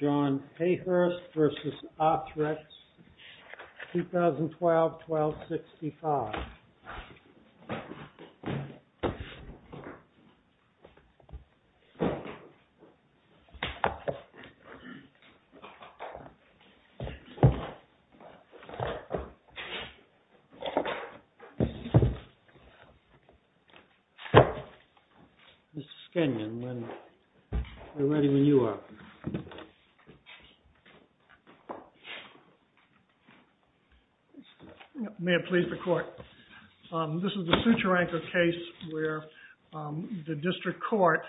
John Hayhurst v. ARTHREX, 2012-12-65 Mr. Skenyon, we're ready when you are. May it please the court, this is a suture-anchored case where the district court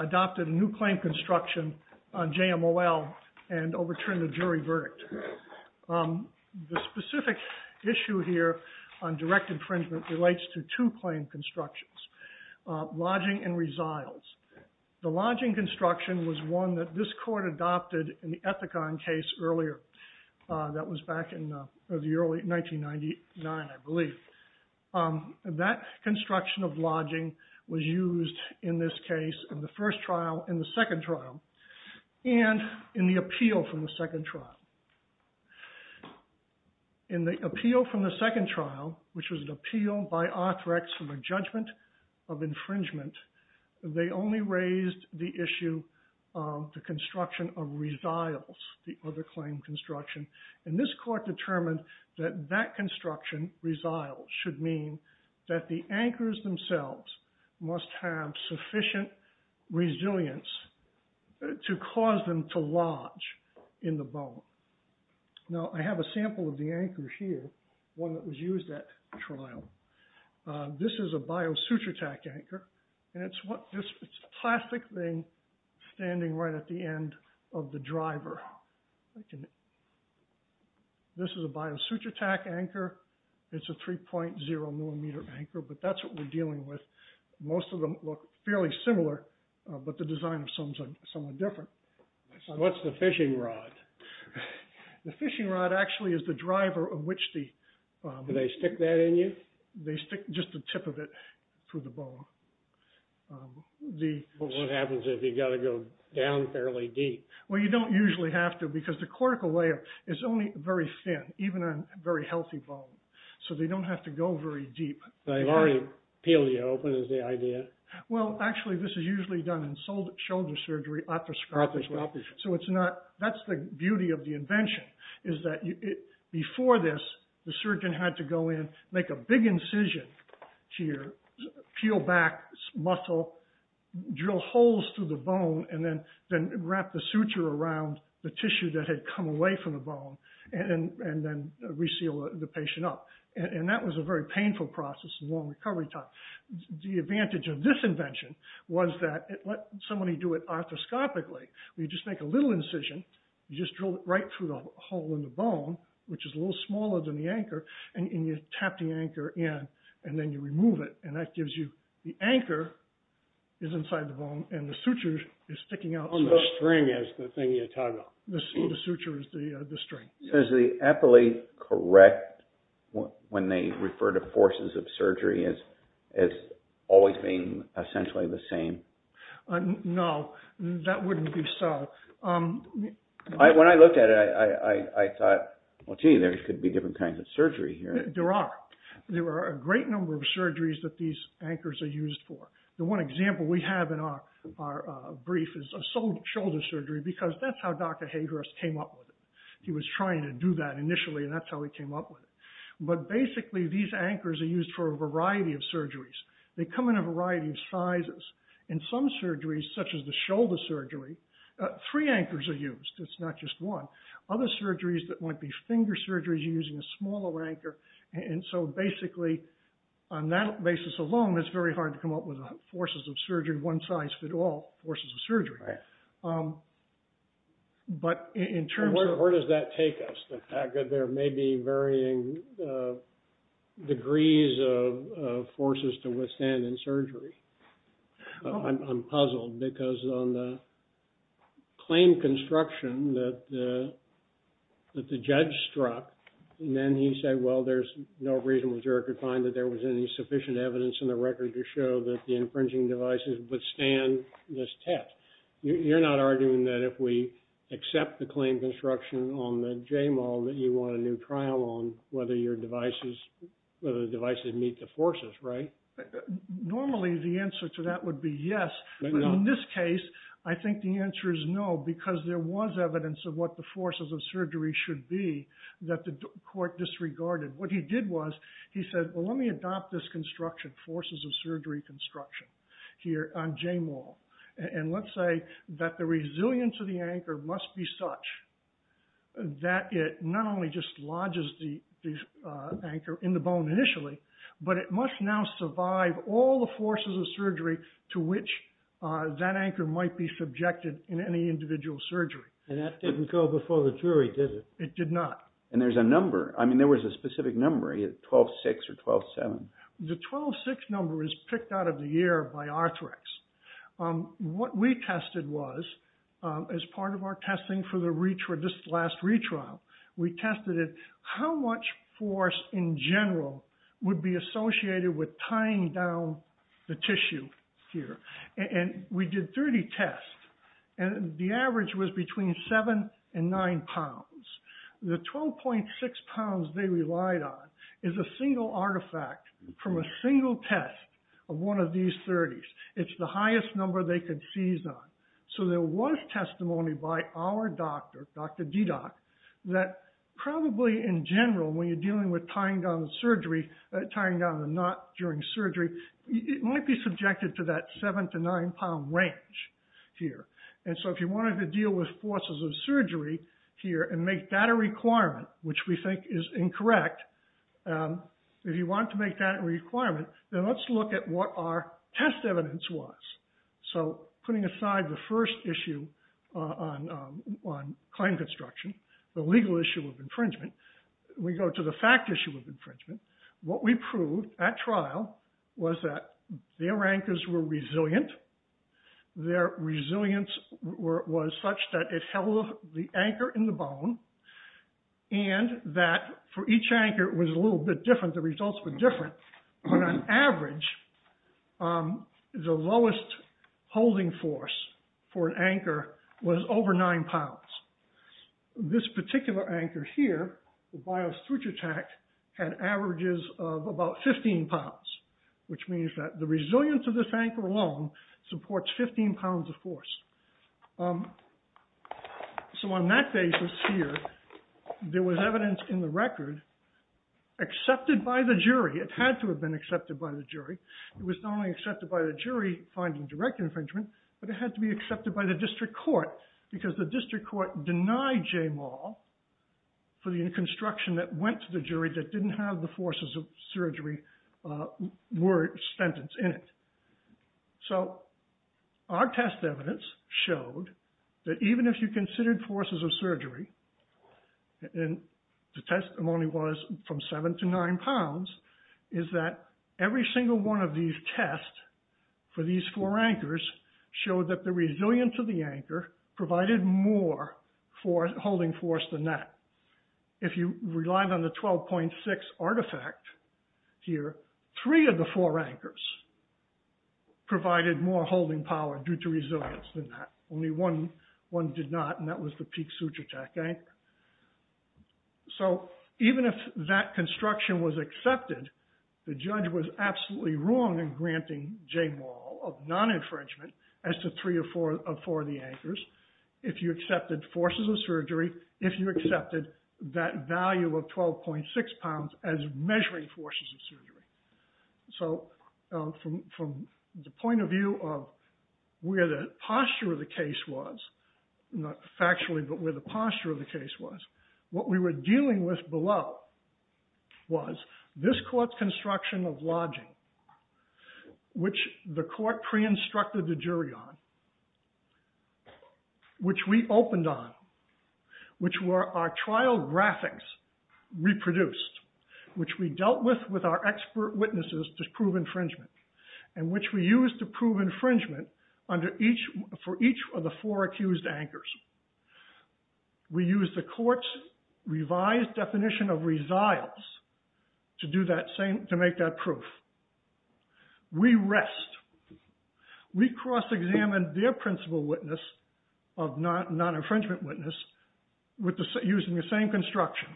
adopted a new claim construction on JMOL and overturned a jury verdict. The specific issue here on direct infringement relates to two claim constructions, lodging and resiles. The lodging construction was one that this court adopted in the Ethicon case earlier, that was back in 1999, I believe. That construction of lodging was used in this case in the first trial and the second trial and in the appeal from the second trial. In the appeal from the second trial, which was an appeal by ARTHREX for the judgment of infringement, they only raised the issue of the construction of resiles, the other claim construction. And this court determined that that construction, resiles, should mean that the anchors themselves must have sufficient resilience to cause them to lodge in the bone. Now I have a sample of the anchor here, one that was used at trial. This is a bio-suture-tac anchor, and it's a plastic thing standing right at the end of the driver. This is a bio-suture-tac anchor, it's a 3.0 millimeter anchor, but that's what we're dealing with. Most of them look fairly similar, but the design of some are different. What's the fishing rod? The fishing rod actually is the driver of which the... Do they stick that in you? They stick just the tip of it through the bone. What happens if you've got to go down fairly deep? Well, you don't usually have to because the cortical layer is only very thin, even on a very healthy bone. So they don't have to go very deep. They've already peeled you open is the idea? Well, actually this is usually done in shoulder surgery, otoscopically. So that's the beauty of the invention, is that before this, the surgeon had to go in, make a big incision here, peel back muscle, drill holes through the bone, and then wrap the suture around the tissue that had come away from the bone, and then reseal the patient up. And that was a very painful process, a long recovery time. The advantage of this invention was that it let somebody do it otoscopically, where you just make a little incision, you just drill it right through the hole in the bone, which is a little smaller than the anchor, and you tap the anchor in, and then you remove it, and that gives you... The anchor is inside the bone, and the suture is sticking out. And the string is the thing you tug on. The suture is the string. So is the appellate correct when they refer to forces of surgery as always being essentially the same? No, that wouldn't be so. When I looked at it, I thought, well, gee, there could be different kinds of surgery here. There are. There are a great number of surgeries that these anchors are used for. The one example we have in our brief is shoulder surgery, because that's how Dr. Hadros came up with it. He was trying to do that initially, and that's how he came up with it. But basically, these anchors are used for a variety of surgeries. They come in a variety of sizes. In some surgeries, such as the shoulder surgery, three anchors are used. It's not just one. Other surgeries that might be finger surgeries, you're using a smaller anchor. And so basically, on that basis alone, it's very hard to come up with forces of surgery one size fit all forces of surgery. Right. But in terms of- Where does that take us? The fact that there may be varying degrees of forces to withstand in surgery? I'm puzzled, because on the claim construction that the judge struck, and then he said, well, there's no reason we could find that there was any sufficient evidence in the record to show that the infringing devices withstand this test. You're not arguing that if we accept the claim construction on the JMOL that you want a new trial on whether the devices meet the forces, right? Normally, the answer to that would be yes. But in this case, I think the answer is no, because there was evidence of what the forces of surgery should be that the court disregarded. What he did was, he said, well, let me adopt this construction, forces of surgery construction here on JMOL. And let's say that the resilience of the anchor must be such that it not only just lodges the anchor in the bone initially, but it must now survive all the forces of surgery to which that anchor might be subjected in any individual surgery. And that didn't go before the jury, did it? It did not. And there's a number. I mean, there was a specific number, 12-6 or 12-7. The 12-6 number is picked out of the air by Arthrex. What we tested was, as part of our testing for this last retrial, we tested how much force in general would be associated with tying down the tissue here. And we did 30 tests. And the average was between 7 and 9 pounds. The 12.6 pounds they relied on is a single artifact from a single test of one of these 30s. It's the highest number they could seize on. So there was testimony by our doctor, Dr. Dedock, that probably in general, when you're dealing with tying down the surgery, tying down the knot during surgery, it might be subjected to that 7 to 9 pound range here. And so if you wanted to deal with forces of surgery here and make that a requirement, which we think is incorrect, if you want to make that a requirement, then let's look at what our test evidence was. So putting aside the first issue on claim construction, the legal issue of infringement, we go to the fact issue of infringement. What we proved at trial was that their anchors were resilient. Their resilience was such that it held the anchor in the bone and that for each anchor was a little bit different. The results were different. But on average, the lowest holding force for an anchor was over 9 pounds. This particular anchor here, the bio suture tact, had averages of about 15 pounds, which means that the resilience of this anchor alone supports 15 pounds of force. So on that basis here, there was evidence in the record accepted by the jury. It had to have been accepted by the jury. It was not only accepted by the jury finding direct infringement, but it had to be accepted by the district court because the district court denied J. Maul for the construction that went to the jury that didn't have the forces of surgery were sentenced in it. So our test evidence showed that even if you considered forces of surgery, and the testimony was from 7 to 9 pounds, is that every single one of these tests for these four anchors showed that the resilience of the anchor provided more holding force than that. If you relied on the 12.6 artifact here, three of the four anchors provided more holding power due to resilience than that. Only one did not, and that was the peak suture tact anchor. So even if that construction was accepted, the judge was absolutely wrong in granting J. Maul of non-infringement as to three of four of the anchors if you accepted forces of surgery, if you accepted that value of 12.6 pounds as measuring forces of surgery. So from the point of view of where the posture of the case was, not factually, but where the posture of the case was, what we were dealing with below was this court's construction of lodging, which the court pre-instructed the jury on, which we opened on, which our trial graphics reproduced, which we dealt with with our expert witnesses to prove infringement, and which we used to prove infringement for each of the four accused anchors. We used the court's revised definition of resiles to make that proof. We rest. We cross-examined their principle witness of non-infringement witness using the same construction,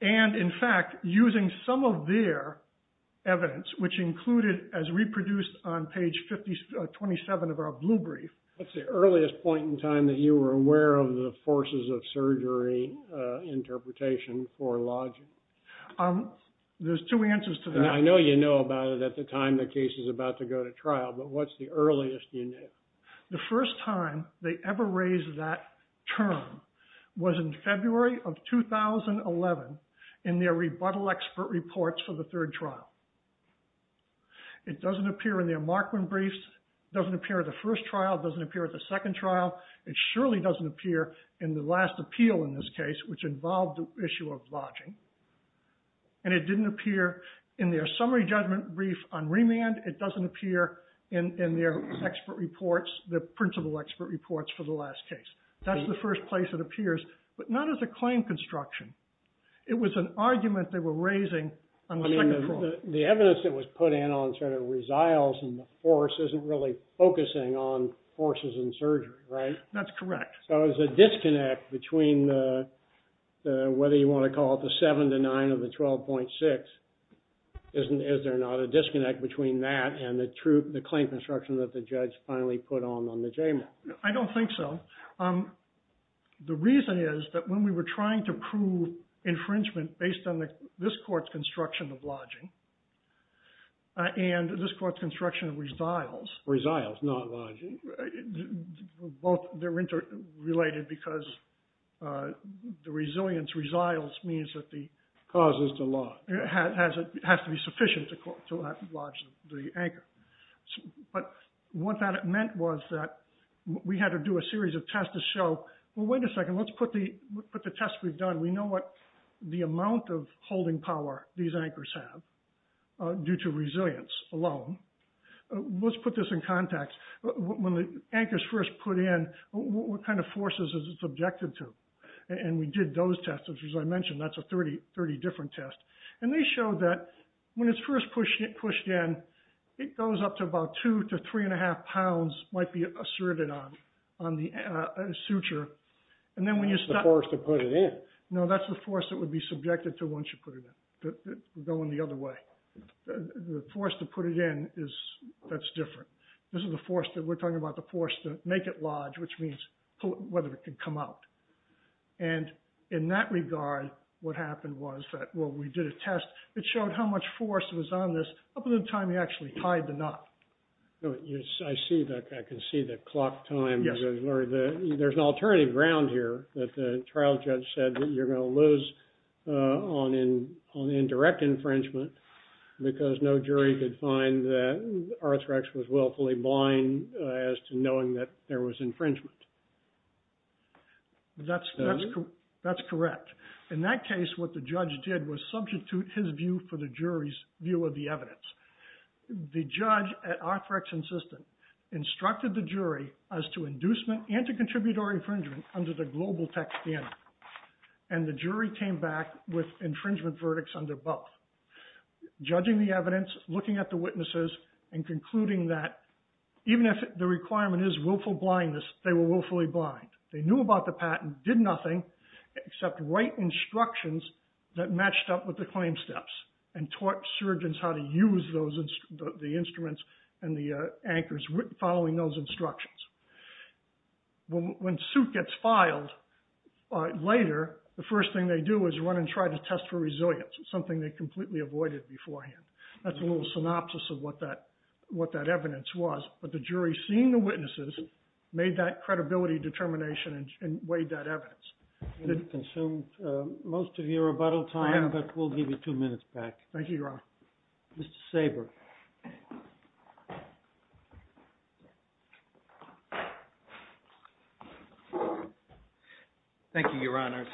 and in fact, using some of their evidence, which included as reproduced on What's the earliest point in time that you were aware of the forces of surgery interpretation for lodging? There's two answers to that. And I know you know about it at the time the case is about to go to trial, but what's the earliest you knew? The first time they ever raised that term was in February of 2011 in their rebuttal expert reports for the third trial. It doesn't appear in their Markman briefs. It doesn't appear at the first trial. It doesn't appear at the second trial. It surely doesn't appear in the last appeal in this case, which involved the issue of lodging. And it didn't appear in their summary judgment brief on remand. It doesn't appear in their expert reports, the principal expert reports for the last case. That's the first place it appears, but not as a claim construction. It was an argument they were raising on the second trial. So the evidence that was put in on sort of resiles and the force isn't really focusing on forces in surgery, right? That's correct. So there's a disconnect between the, whether you want to call it the seven to nine or the 12.6. Is there not a disconnect between that and the claim construction that the judge finally put on on the JMA? I don't think so. The reason is that when we were trying to prove infringement based on this court's construction of lodging, and this court's construction of resiles. Resiles, not lodging. Both, they're interrelated because the resilience resiles means that the- Causes to lodge. Has to be sufficient to lodge the anchor. But what that meant was that we had to do a series of tests to show, well, wait a second. Let's put the tests we've done. We know what the amount of holding power these anchors have due to resilience alone. Let's put this in context. When the anchors first put in, what kind of forces is it subjected to? And we did those tests, which as I mentioned, that's a 30 different tests. And they showed that when it's first pushed in, it goes up to about two to three and a half pounds might be asserted on a suture. And then when you start- The force to put it in. No, that's the force that would be subjected to once you put it in. Going the other way. The force to put it in is, that's different. This is the force that we're talking about, the force to make it lodge, which means whether it can come out. And in that regard, what happened was that when we did a test, it showed how much force was on this up until the time we actually tied the knot. I see that. I can see the clock time. There's an alternative ground here that the trial judge said that you're going to lose on indirect infringement because no jury could find that Arthrex was willfully blind as to knowing that there was infringement. That's correct. In that case, what the judge did was substitute his view for the jury's view of the evidence. The judge at Arthrex Insistent instructed the jury as to inducement and to contribute or infringement under the global tech standard. And the jury came back with infringement verdicts under both. Judging the evidence, looking at the witnesses, and concluding that even if the requirement is willful blindness, they were willfully blind. They knew about the patent, did nothing except write instructions that matched up with the instruments and the anchors following those instructions. When suit gets filed later, the first thing they do is run and try to test for resilience, something they completely avoided beforehand. That's a little synopsis of what that evidence was. But the jury, seeing the witnesses, made that credibility determination and weighed that evidence. It consumed most of your rebuttal time, but we'll give you two minutes back. Thank you, Your Honor. Mr. Saber. Thank you, Your Honors.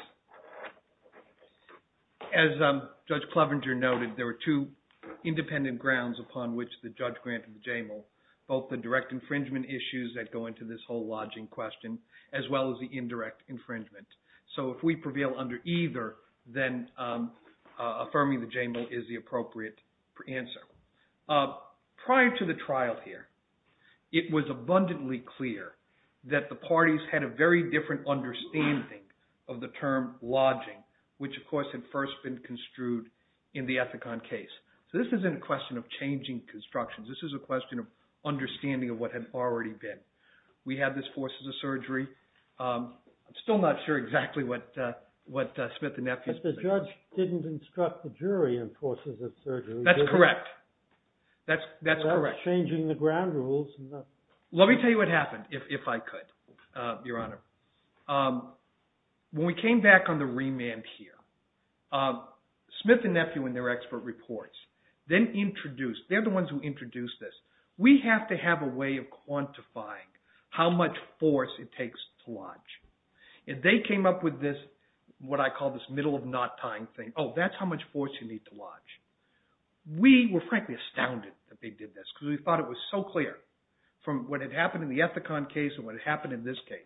As Judge Clevenger noted, there were two independent grounds upon which the judge granted the JAMAL, both the direct infringement issues that go into this whole lodging question, as well as the indirect infringement. So if we prevail under either, then affirming the JAMAL is the appropriate answer. Prior to the trial here, it was abundantly clear that the parties had a very different understanding of the term lodging, which, of course, had first been construed in the Ethicon case. So this isn't a question of changing constructions. This is a question of understanding of what had already been. We had this force of the surgery. I'm still not sure exactly what Smith and Nephew think. But the judge didn't instruct the jury in forces of surgery, did he? That's correct. That's correct. That's changing the ground rules. Let me tell you what happened, if I could, Your Honor. When we came back on the remand here, Smith and Nephew in their expert reports then introduced, they're the ones who introduced this, we have to have a way of quantifying how much force it takes to lodge. And they came up with this, what I call this middle of knot tying thing. Oh, that's how much force you need to lodge. We were frankly astounded that they did this because we thought it was so clear from what had happened in the Ethicon case and what had happened in this case.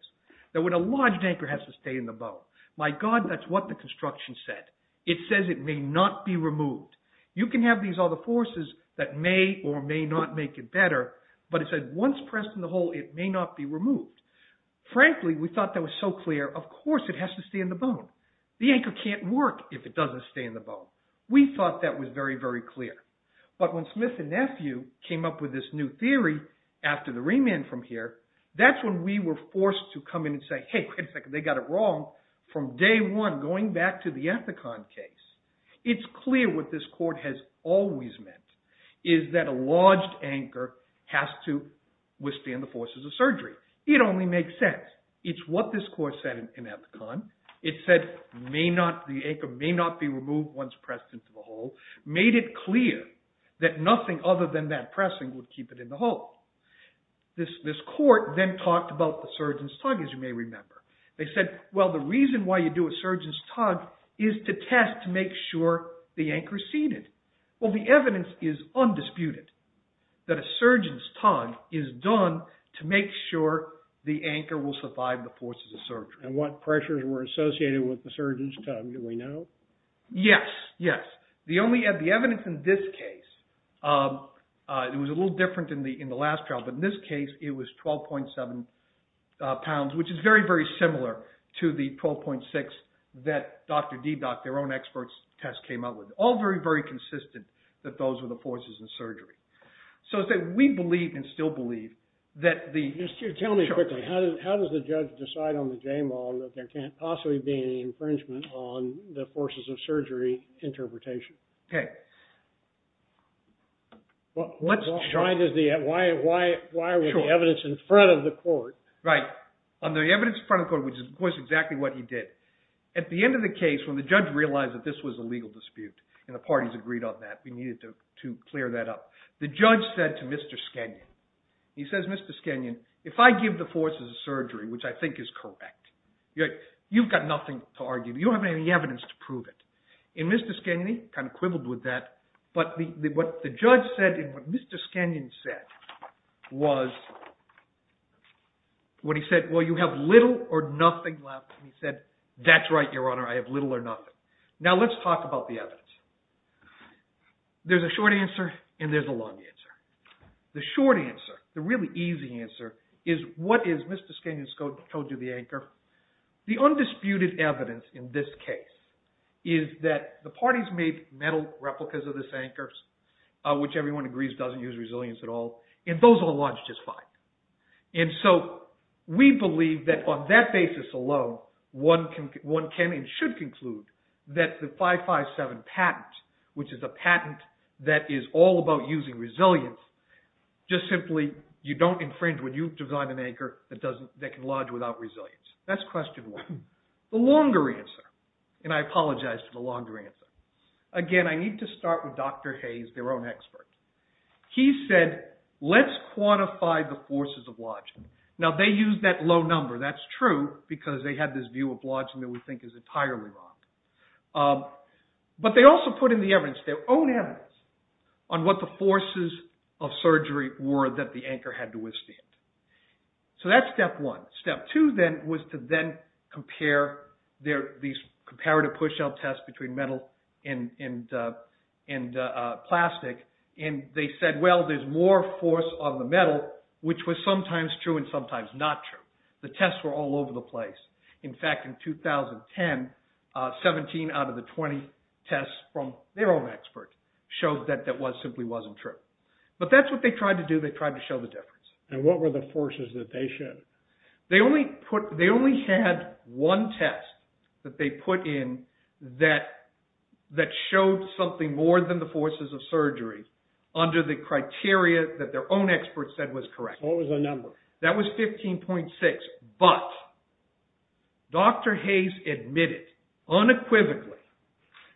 That when a lodged anchor has to stay in the bow, my God, that's what the construction said. It says it may not be removed. You can have these other forces that may or may not make it better, but it said once pressed in the hole, it may not be removed. Frankly, we thought that was so clear. Of course, it has to stay in the bow. The anchor can't work if it doesn't stay in the bow. We thought that was very, very clear. But when Smith and Nephew came up with this new theory after the remand from here, that's when we were forced to come in and say, hey, wait a second, they got it wrong from day one going back to the Ethicon case. It's clear what this court has always meant is that a lodged anchor has to withstand the forces of surgery. It only makes sense. It's what this court said in Ethicon. It said the anchor may not be removed once pressed into the hole, made it clear that nothing other than that pressing would keep it in the hole. This court then talked about the surgeon's tug, as you may remember. They said, well, the reason why you do a surgeon's tug is to test to make sure the anchor is seated. Well, the evidence is undisputed that a surgeon's tug is done to make sure the anchor will survive the forces of surgery. And what pressures were associated with the surgeon's tug? Do we know? Yes. Yes. The evidence in this case, it was a little different in the last trial, but in this case, it was 12.7 pounds, which is very, very similar to the 12.6 that Dr. Didak, their own expert test, came up with. All very, very consistent that those were the forces in surgery. So we believe, and still believe, that the- Just tell me quickly, how does the judge decide on the Jamal that there can't possibly be an infringement on the forces of surgery interpretation? Okay. Why was the evidence in front of the court- Right. On the evidence in front of the court, which is exactly what he did, at the end of the And the parties agreed on that. We needed to clear that up. The judge said to Mr. Skanyon, he says, Mr. Skanyon, if I give the forces of surgery, which I think is correct, you've got nothing to argue. You don't have any evidence to prove it. And Mr. Skanyon, he kind of quibbled with that, but what the judge said and what Mr. Skanyon said was, what he said, well, you have little or nothing left. And he said, that's right, Your Honor. I have little or nothing. Now, let's talk about the evidence. There's a short answer and there's a long answer. The short answer, the really easy answer, is what is Mr. Skanyon's code to the anchor. The undisputed evidence in this case is that the parties made metal replicas of this anchor, which everyone agrees doesn't use resilience at all, and those all lodge just fine. And so we believe that on that basis alone, one can and should conclude that the 557 patent, which is a patent that is all about using resilience, just simply you don't infringe when you design an anchor that can lodge without resilience. That's question one. The longer answer, and I apologize for the longer answer. Again, I need to start with Dr. Hayes, their own expert. He said, let's quantify the forces of lodging. Now, they used that low number. That's true because they had this view of lodging that we think is entirely wrong. But they also put in the evidence, their own evidence, on what the forces of surgery were that the anchor had to withstand. So that's step one. Step two then was to then compare these comparative push-out tests between metal and plastic. And they said, well, there's more force on the metal, which was sometimes true and sometimes not true. The tests were all over the place. In fact, in 2010, 17 out of the 20 tests from their own expert showed that that simply wasn't true. But that's what they tried to do. They tried to show the difference. And what were the forces that they showed? They only had one test that they put in that showed something more than the forces of surgery under the criteria that their own expert said was correct. What was the number? That was 15.6. But Dr. Hayes admitted unequivocally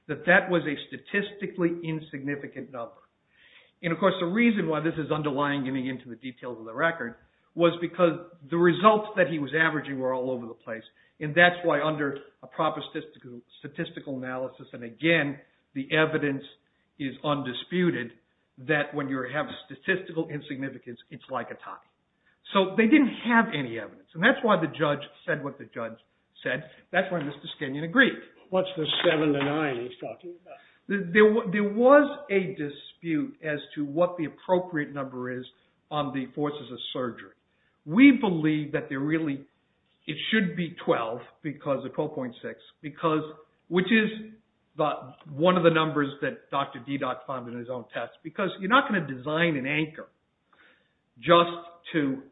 that that was a statistically insignificant number. And of course, the reason why this is underlying, getting into the details of the record, was because the results that he was averaging were all over the place. And that's why under a proper statistical analysis, and again, the evidence is undisputed, that when you have statistical insignificance, it's like a tie. So they didn't have any evidence. And that's why the judge said what the judge said. That's why Mr. Skinion agreed. What's the seven to nine he's talking about? There was a dispute as to what the appropriate number is on the forces of surgery. We believe that there really should be 12 because of 12.6, which is one of the numbers that Dr. Didak found in his own test. Because you're not going to design an anchor just to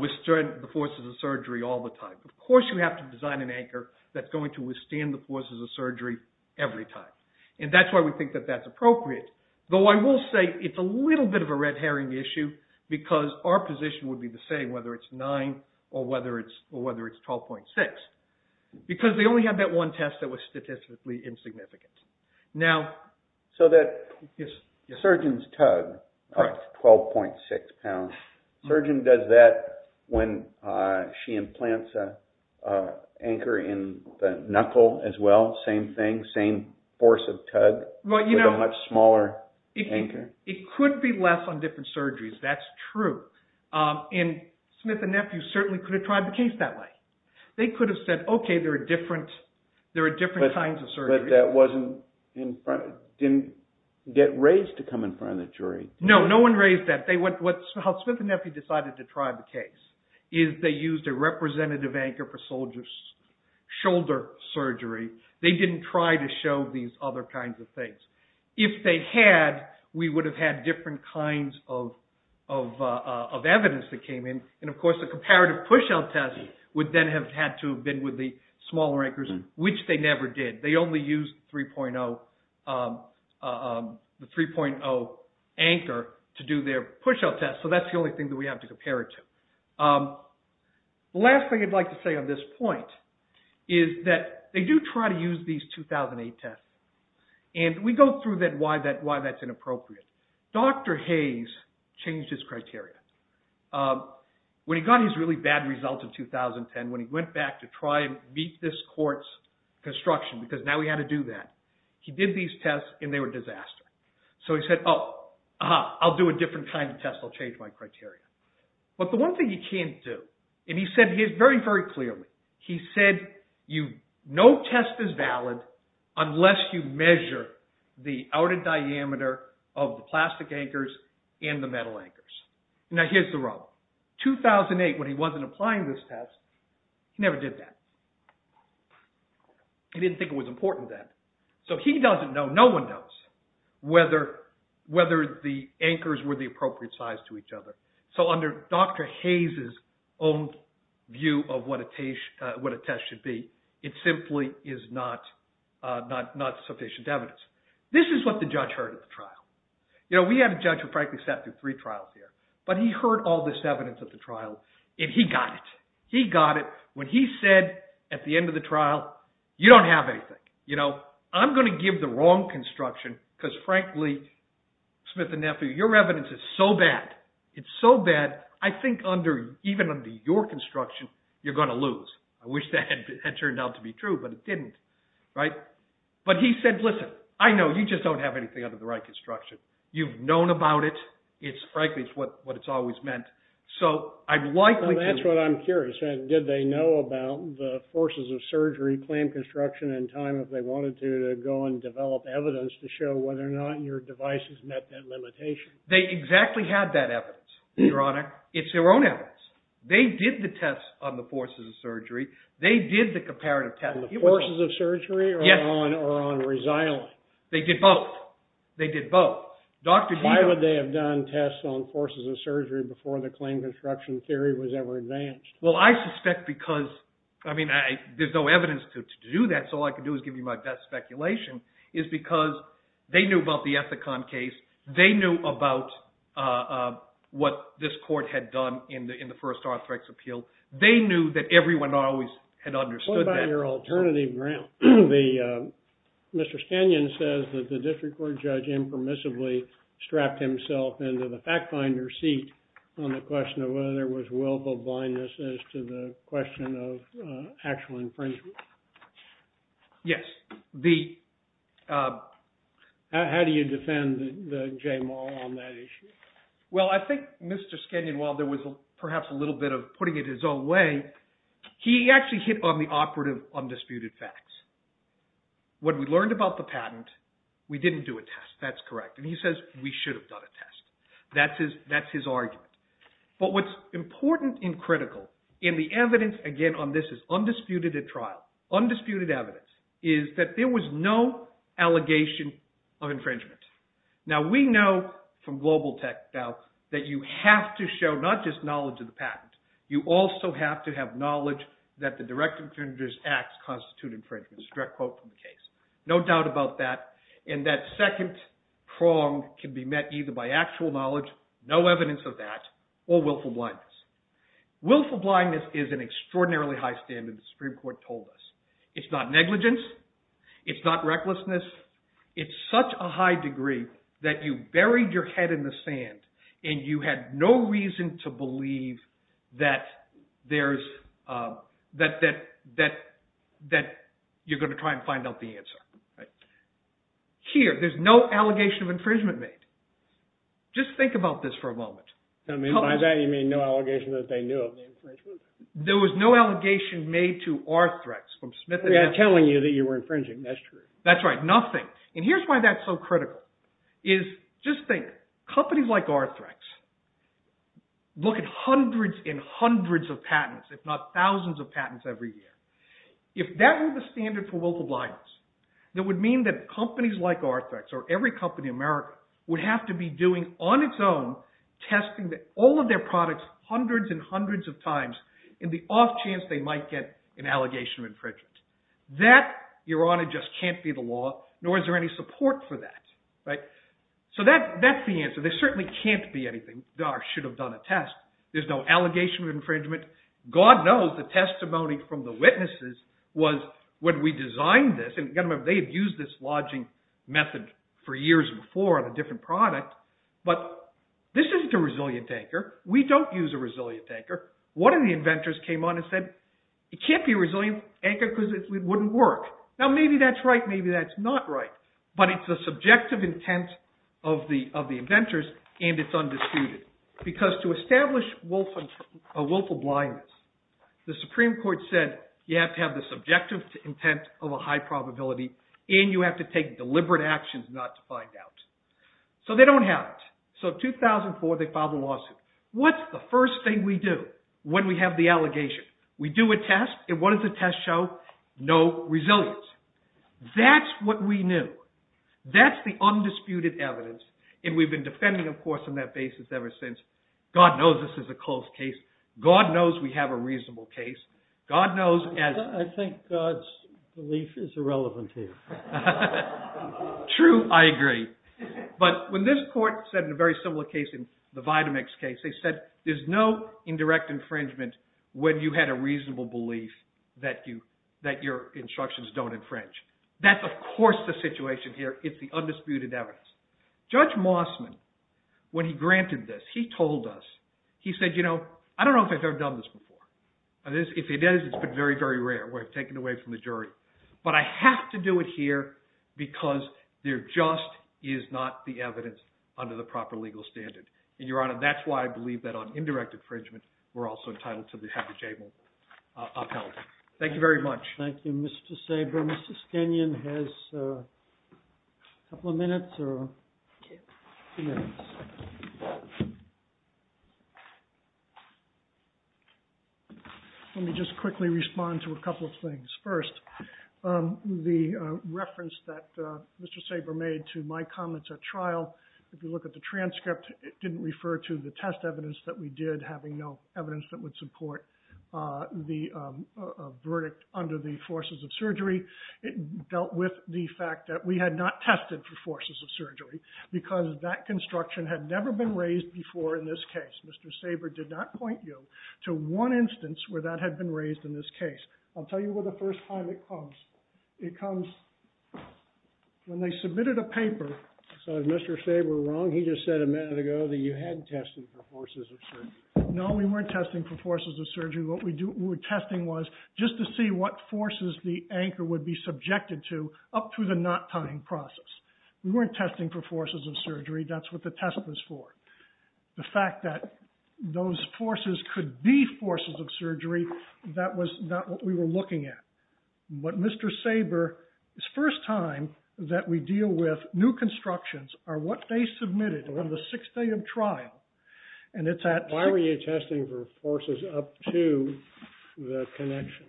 withstand the forces of surgery all the time. Of course, you have to design an anchor that's going to withstand the forces of surgery every time. And that's why we think that that's appropriate. Though I will say it's a little bit of a red herring issue because our position would be the same whether it's nine or whether it's 12.6. Because they only had that one test that was statistically insignificant. So that surgeon's tug of 12.6 pounds, surgeon does that when she implants an anchor in the knuckle as well? Same thing, same force of tug with a much smaller anchor? It could be less on different surgeries. That's true. And Smith and Nephew certainly could have tried the case that way. They could have said, okay, there are different kinds of surgeries. But that didn't get raised to come in front of the jury. No, no one raised that. How Smith and Nephew decided to try the case is they used a representative anchor for shoulder surgery. They didn't try to show these other kinds of things. If they had, we would have had different kinds of evidence that came in. And, of course, the comparative push-out test would then have had to have been with the smaller anchors, which they never did. They only used the 3.0 anchor to do their push-out test. So that's the only thing that we have to compare it to. The last thing I'd like to say on this point is that they do try to use these 2008 tests. And we go through why that's inappropriate. Dr. Hayes changed his criteria. When he got his really bad result in 2010, when he went back to try and beat this court's construction, because now he had to do that, he did these tests and they were disastrous. So he said, oh, I'll do a different kind of test. I'll change my criteria. But the one thing he can't do, and he said this very, very clearly. He said no test is valid unless you measure the outer diameter of the plastic anchors and the metal anchors. Now, here's the rub. 2008, when he wasn't applying this test, he never did that. He didn't think it was important then. So he doesn't know, no one knows, whether the anchors were the appropriate size to each other. So under Dr. Hayes' own view of what a test should be, it simply is not sufficient evidence. This is what the judge heard at the trial. We had a judge who, frankly, sat through three trials here. But he heard all this evidence at the trial, and he got it. He got it when he said at the end of the trial, you don't have anything. I'm going to give the wrong construction because, frankly, Smith and Nephew, your evidence is so bad. It's so bad, I think even under your construction, you're going to lose. I wish that had turned out to be true, but it didn't. But he said, listen, I know you just don't have anything under the right construction. You've known about it. It's, frankly, what it's always meant. So I'm likely to- That's what I'm curious. Did they know about the forces of surgery, clamp construction, and time if they wanted to, to go and develop evidence to show whether or not your devices met that limitation? They exactly had that evidence, Your Honor. It's their own evidence. They did the test on the forces of surgery. They did the comparative test. On the forces of surgery or on resiling? They did both. They did both. Why would they have done tests on forces of surgery before the claim construction theory was ever advanced? Well, I suspect because, I mean, there's no evidence to do that, so all I can do is give you my best speculation, is because they knew about the Ethicon case. They knew about what this court had done in the first Arthrex appeal. They knew that everyone always had understood that. On your alternative ground, Mr. Scannion says that the district court judge impermissibly strapped himself into the fact finder seat on the question of whether there was willful blindness as to the question of actual infringement. Yes. How do you defend J. Maul on that issue? Well, I think Mr. Scannion, while there was perhaps a little bit of putting it his own way, he actually hit on the operative undisputed facts. When we learned about the patent, we didn't do a test. That's correct. And he says we should have done a test. That's his argument. But what's important and critical in the evidence, again, on this is undisputed at trial, undisputed evidence, is that there was no allegation of infringement. Now, we know from global tech now that you have to show not just knowledge of the patent. You also have to have knowledge that the direct infringer's acts constitute infringement. It's a direct quote from the case. No doubt about that. And that second prong can be met either by actual knowledge, no evidence of that, or willful blindness. Willful blindness is an extraordinarily high standard the Supreme Court told us. It's not negligence. It's not recklessness. It's such a high degree that you buried your head in the sand, and you had no reason to believe that you're going to try and find out the answer. Here, there's no allegation of infringement made. Just think about this for a moment. By that, you mean no allegation that they knew of the infringement? There was no allegation made to Arthrex from Smith and Adams. They're telling you that you were infringing. That's true. That's right, nothing. And here's why that's so critical. Just think, companies like Arthrex look at hundreds and hundreds of patents, if not thousands of patents every year. If that were the standard for willful blindness, it would mean that companies like Arthrex or every company in America would have to be doing on its own testing all of their products hundreds and hundreds of times in the off chance they might get an allegation of infringement. That, Your Honor, just can't be the law, nor is there any support for that. So that's the answer. There certainly can't be anything, or should have done a test. There's no allegation of infringement. God knows the testimony from the witnesses was when we designed this, and you've got to remember, they had used this lodging method for years before on a different product, but this isn't a resilient anchor. We don't use a resilient anchor. One of the inventors came on and said, it can't be a resilient anchor because it wouldn't work. Now maybe that's right, maybe that's not right, but it's the subjective intent of the inventors, and it's undisputed. Because to establish willful blindness, the Supreme Court said, you have to have the subjective intent of a high probability, and you have to take deliberate actions not to find out. So they don't have it. So in 2004, they filed a lawsuit. What's the first thing we do when we have the allegation? We do a test, and what does the test show? No resilience. That's what we knew. That's the undisputed evidence, and we've been defending, of course, on that basis ever since. God knows this is a closed case. God knows we have a reasonable case. God knows as— I think God's belief is irrelevant here. True, I agree. But when this court said in a very similar case, in the Vitamix case, they said there's no indirect infringement when you had a reasonable belief that your instructions don't infringe. That's, of course, the situation here. It's the undisputed evidence. Judge Mossman, when he granted this, he told us. He said, you know, I don't know if I've ever done this before. If it is, it's been very, very rare. We've taken it away from the jury. But I have to do it here because there just is not the evidence under the proper legal standard. And, Your Honor, that's why I believe that on indirect infringement, we're also entitled to have the jail upheld. Thank you very much. Thank you, Mr. Saber. Mr. Skenyon has a couple of minutes or two minutes. Let me just quickly respond to a couple of things. First, the reference that Mr. Saber made to my comments at trial, if you look at the transcript, it didn't refer to the test evidence that we did having no evidence that would support the verdict under the forces of surgery. It dealt with the fact that we had not tested for forces of surgery because that construction had never been raised before in this case. Mr. Saber did not point you to one instance where that had been raised in this case. I'll tell you where the first time it comes. It comes when they submitted a paper. So is Mr. Saber wrong? He just said a minute ago that you hadn't tested for forces of surgery. No, we weren't testing for forces of surgery. What we were testing was just to see what forces the anchor would be subjected to up through the not tying process. We weren't testing for forces of surgery. That's what the test was for. The fact that those forces could be forces of surgery, that was not what we were looking at. But Mr. Saber, his first time that we deal with new constructions are what they submitted on the sixth day of trial. Why were you testing for forces up to the connection?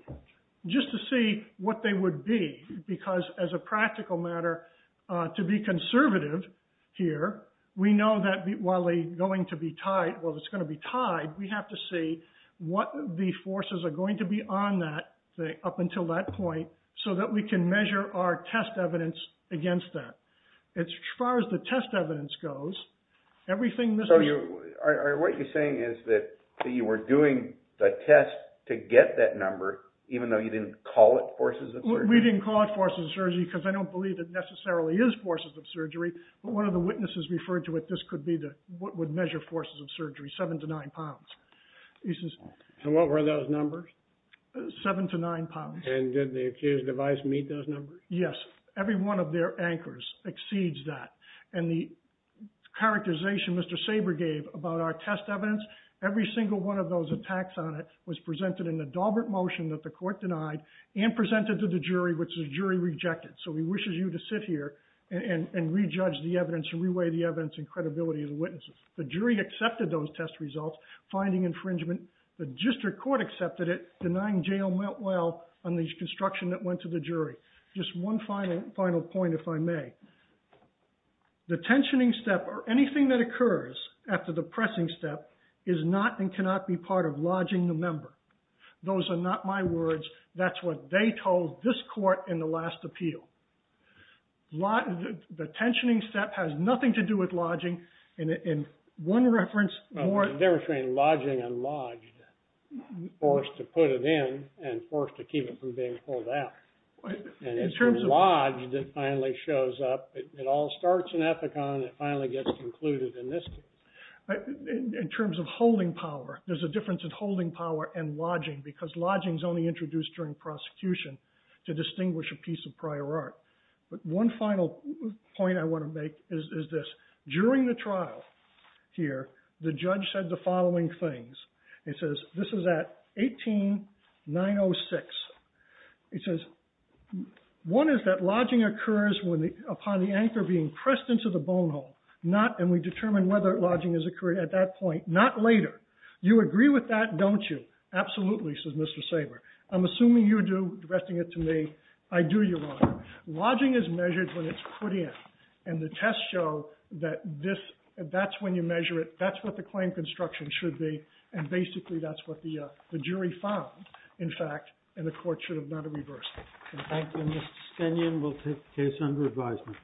Just to see what they would be because as a practical matter, to be conservative here, we know that while it's going to be tied, we have to see what the forces are going to be on that up until that point so that we can measure our test evidence against that. As far as the test evidence goes, everything Mr. – So what you're saying is that you were doing the test to get that number even though you didn't call it forces of surgery? We didn't call it forces of surgery because I don't believe it necessarily is forces of surgery, but one of the witnesses referred to it, this could be what would measure forces of surgery, 7 to 9 pounds. And what were those numbers? 7 to 9 pounds. And did the accused device meet those numbers? Yes, every one of their anchors exceeds that. And the characterization Mr. Saber gave about our test evidence, every single one of those attacks on it was presented in the Dalbert motion that the court denied and presented to the jury, which the jury rejected. So he wishes you to sit here and re-judge the evidence and re-weigh the evidence and credibility of the witnesses. The jury accepted those test results, finding infringement. The district court accepted it. Denying jail meant well on the construction that went to the jury. Just one final point if I may. The tensioning step or anything that occurs after the pressing step is not and cannot be part of lodging the member. Those are not my words. That's what they told this court in the last appeal. The tensioning step has nothing to do with lodging. One reference. They were saying lodging and lodged. Forced to put it in and forced to keep it from being pulled out. And it's lodged that finally shows up. It all starts in Epicon. It finally gets concluded in this case. In terms of holding power, there's a difference in holding power and lodging because lodging is only introduced during prosecution to distinguish a piece of prior art. But one final point I want to make is this. During the trial here, the judge said the following things. It says, this is at 18906. It says, one is that lodging occurs upon the anchor being pressed into the bone hole and we determine whether lodging has occurred at that point, not later. You agree with that, don't you? Absolutely, says Mr. Saber. I'm assuming you do, addressing it to me. I do, Your Honor. Lodging is measured when it's put in. And the tests show that this, that's when you measure it. That's what the claim construction should be. And basically, that's what the jury found, in fact, and the court should have not have reversed it. Thank you. Mr. Stenyan will take the case under advisement.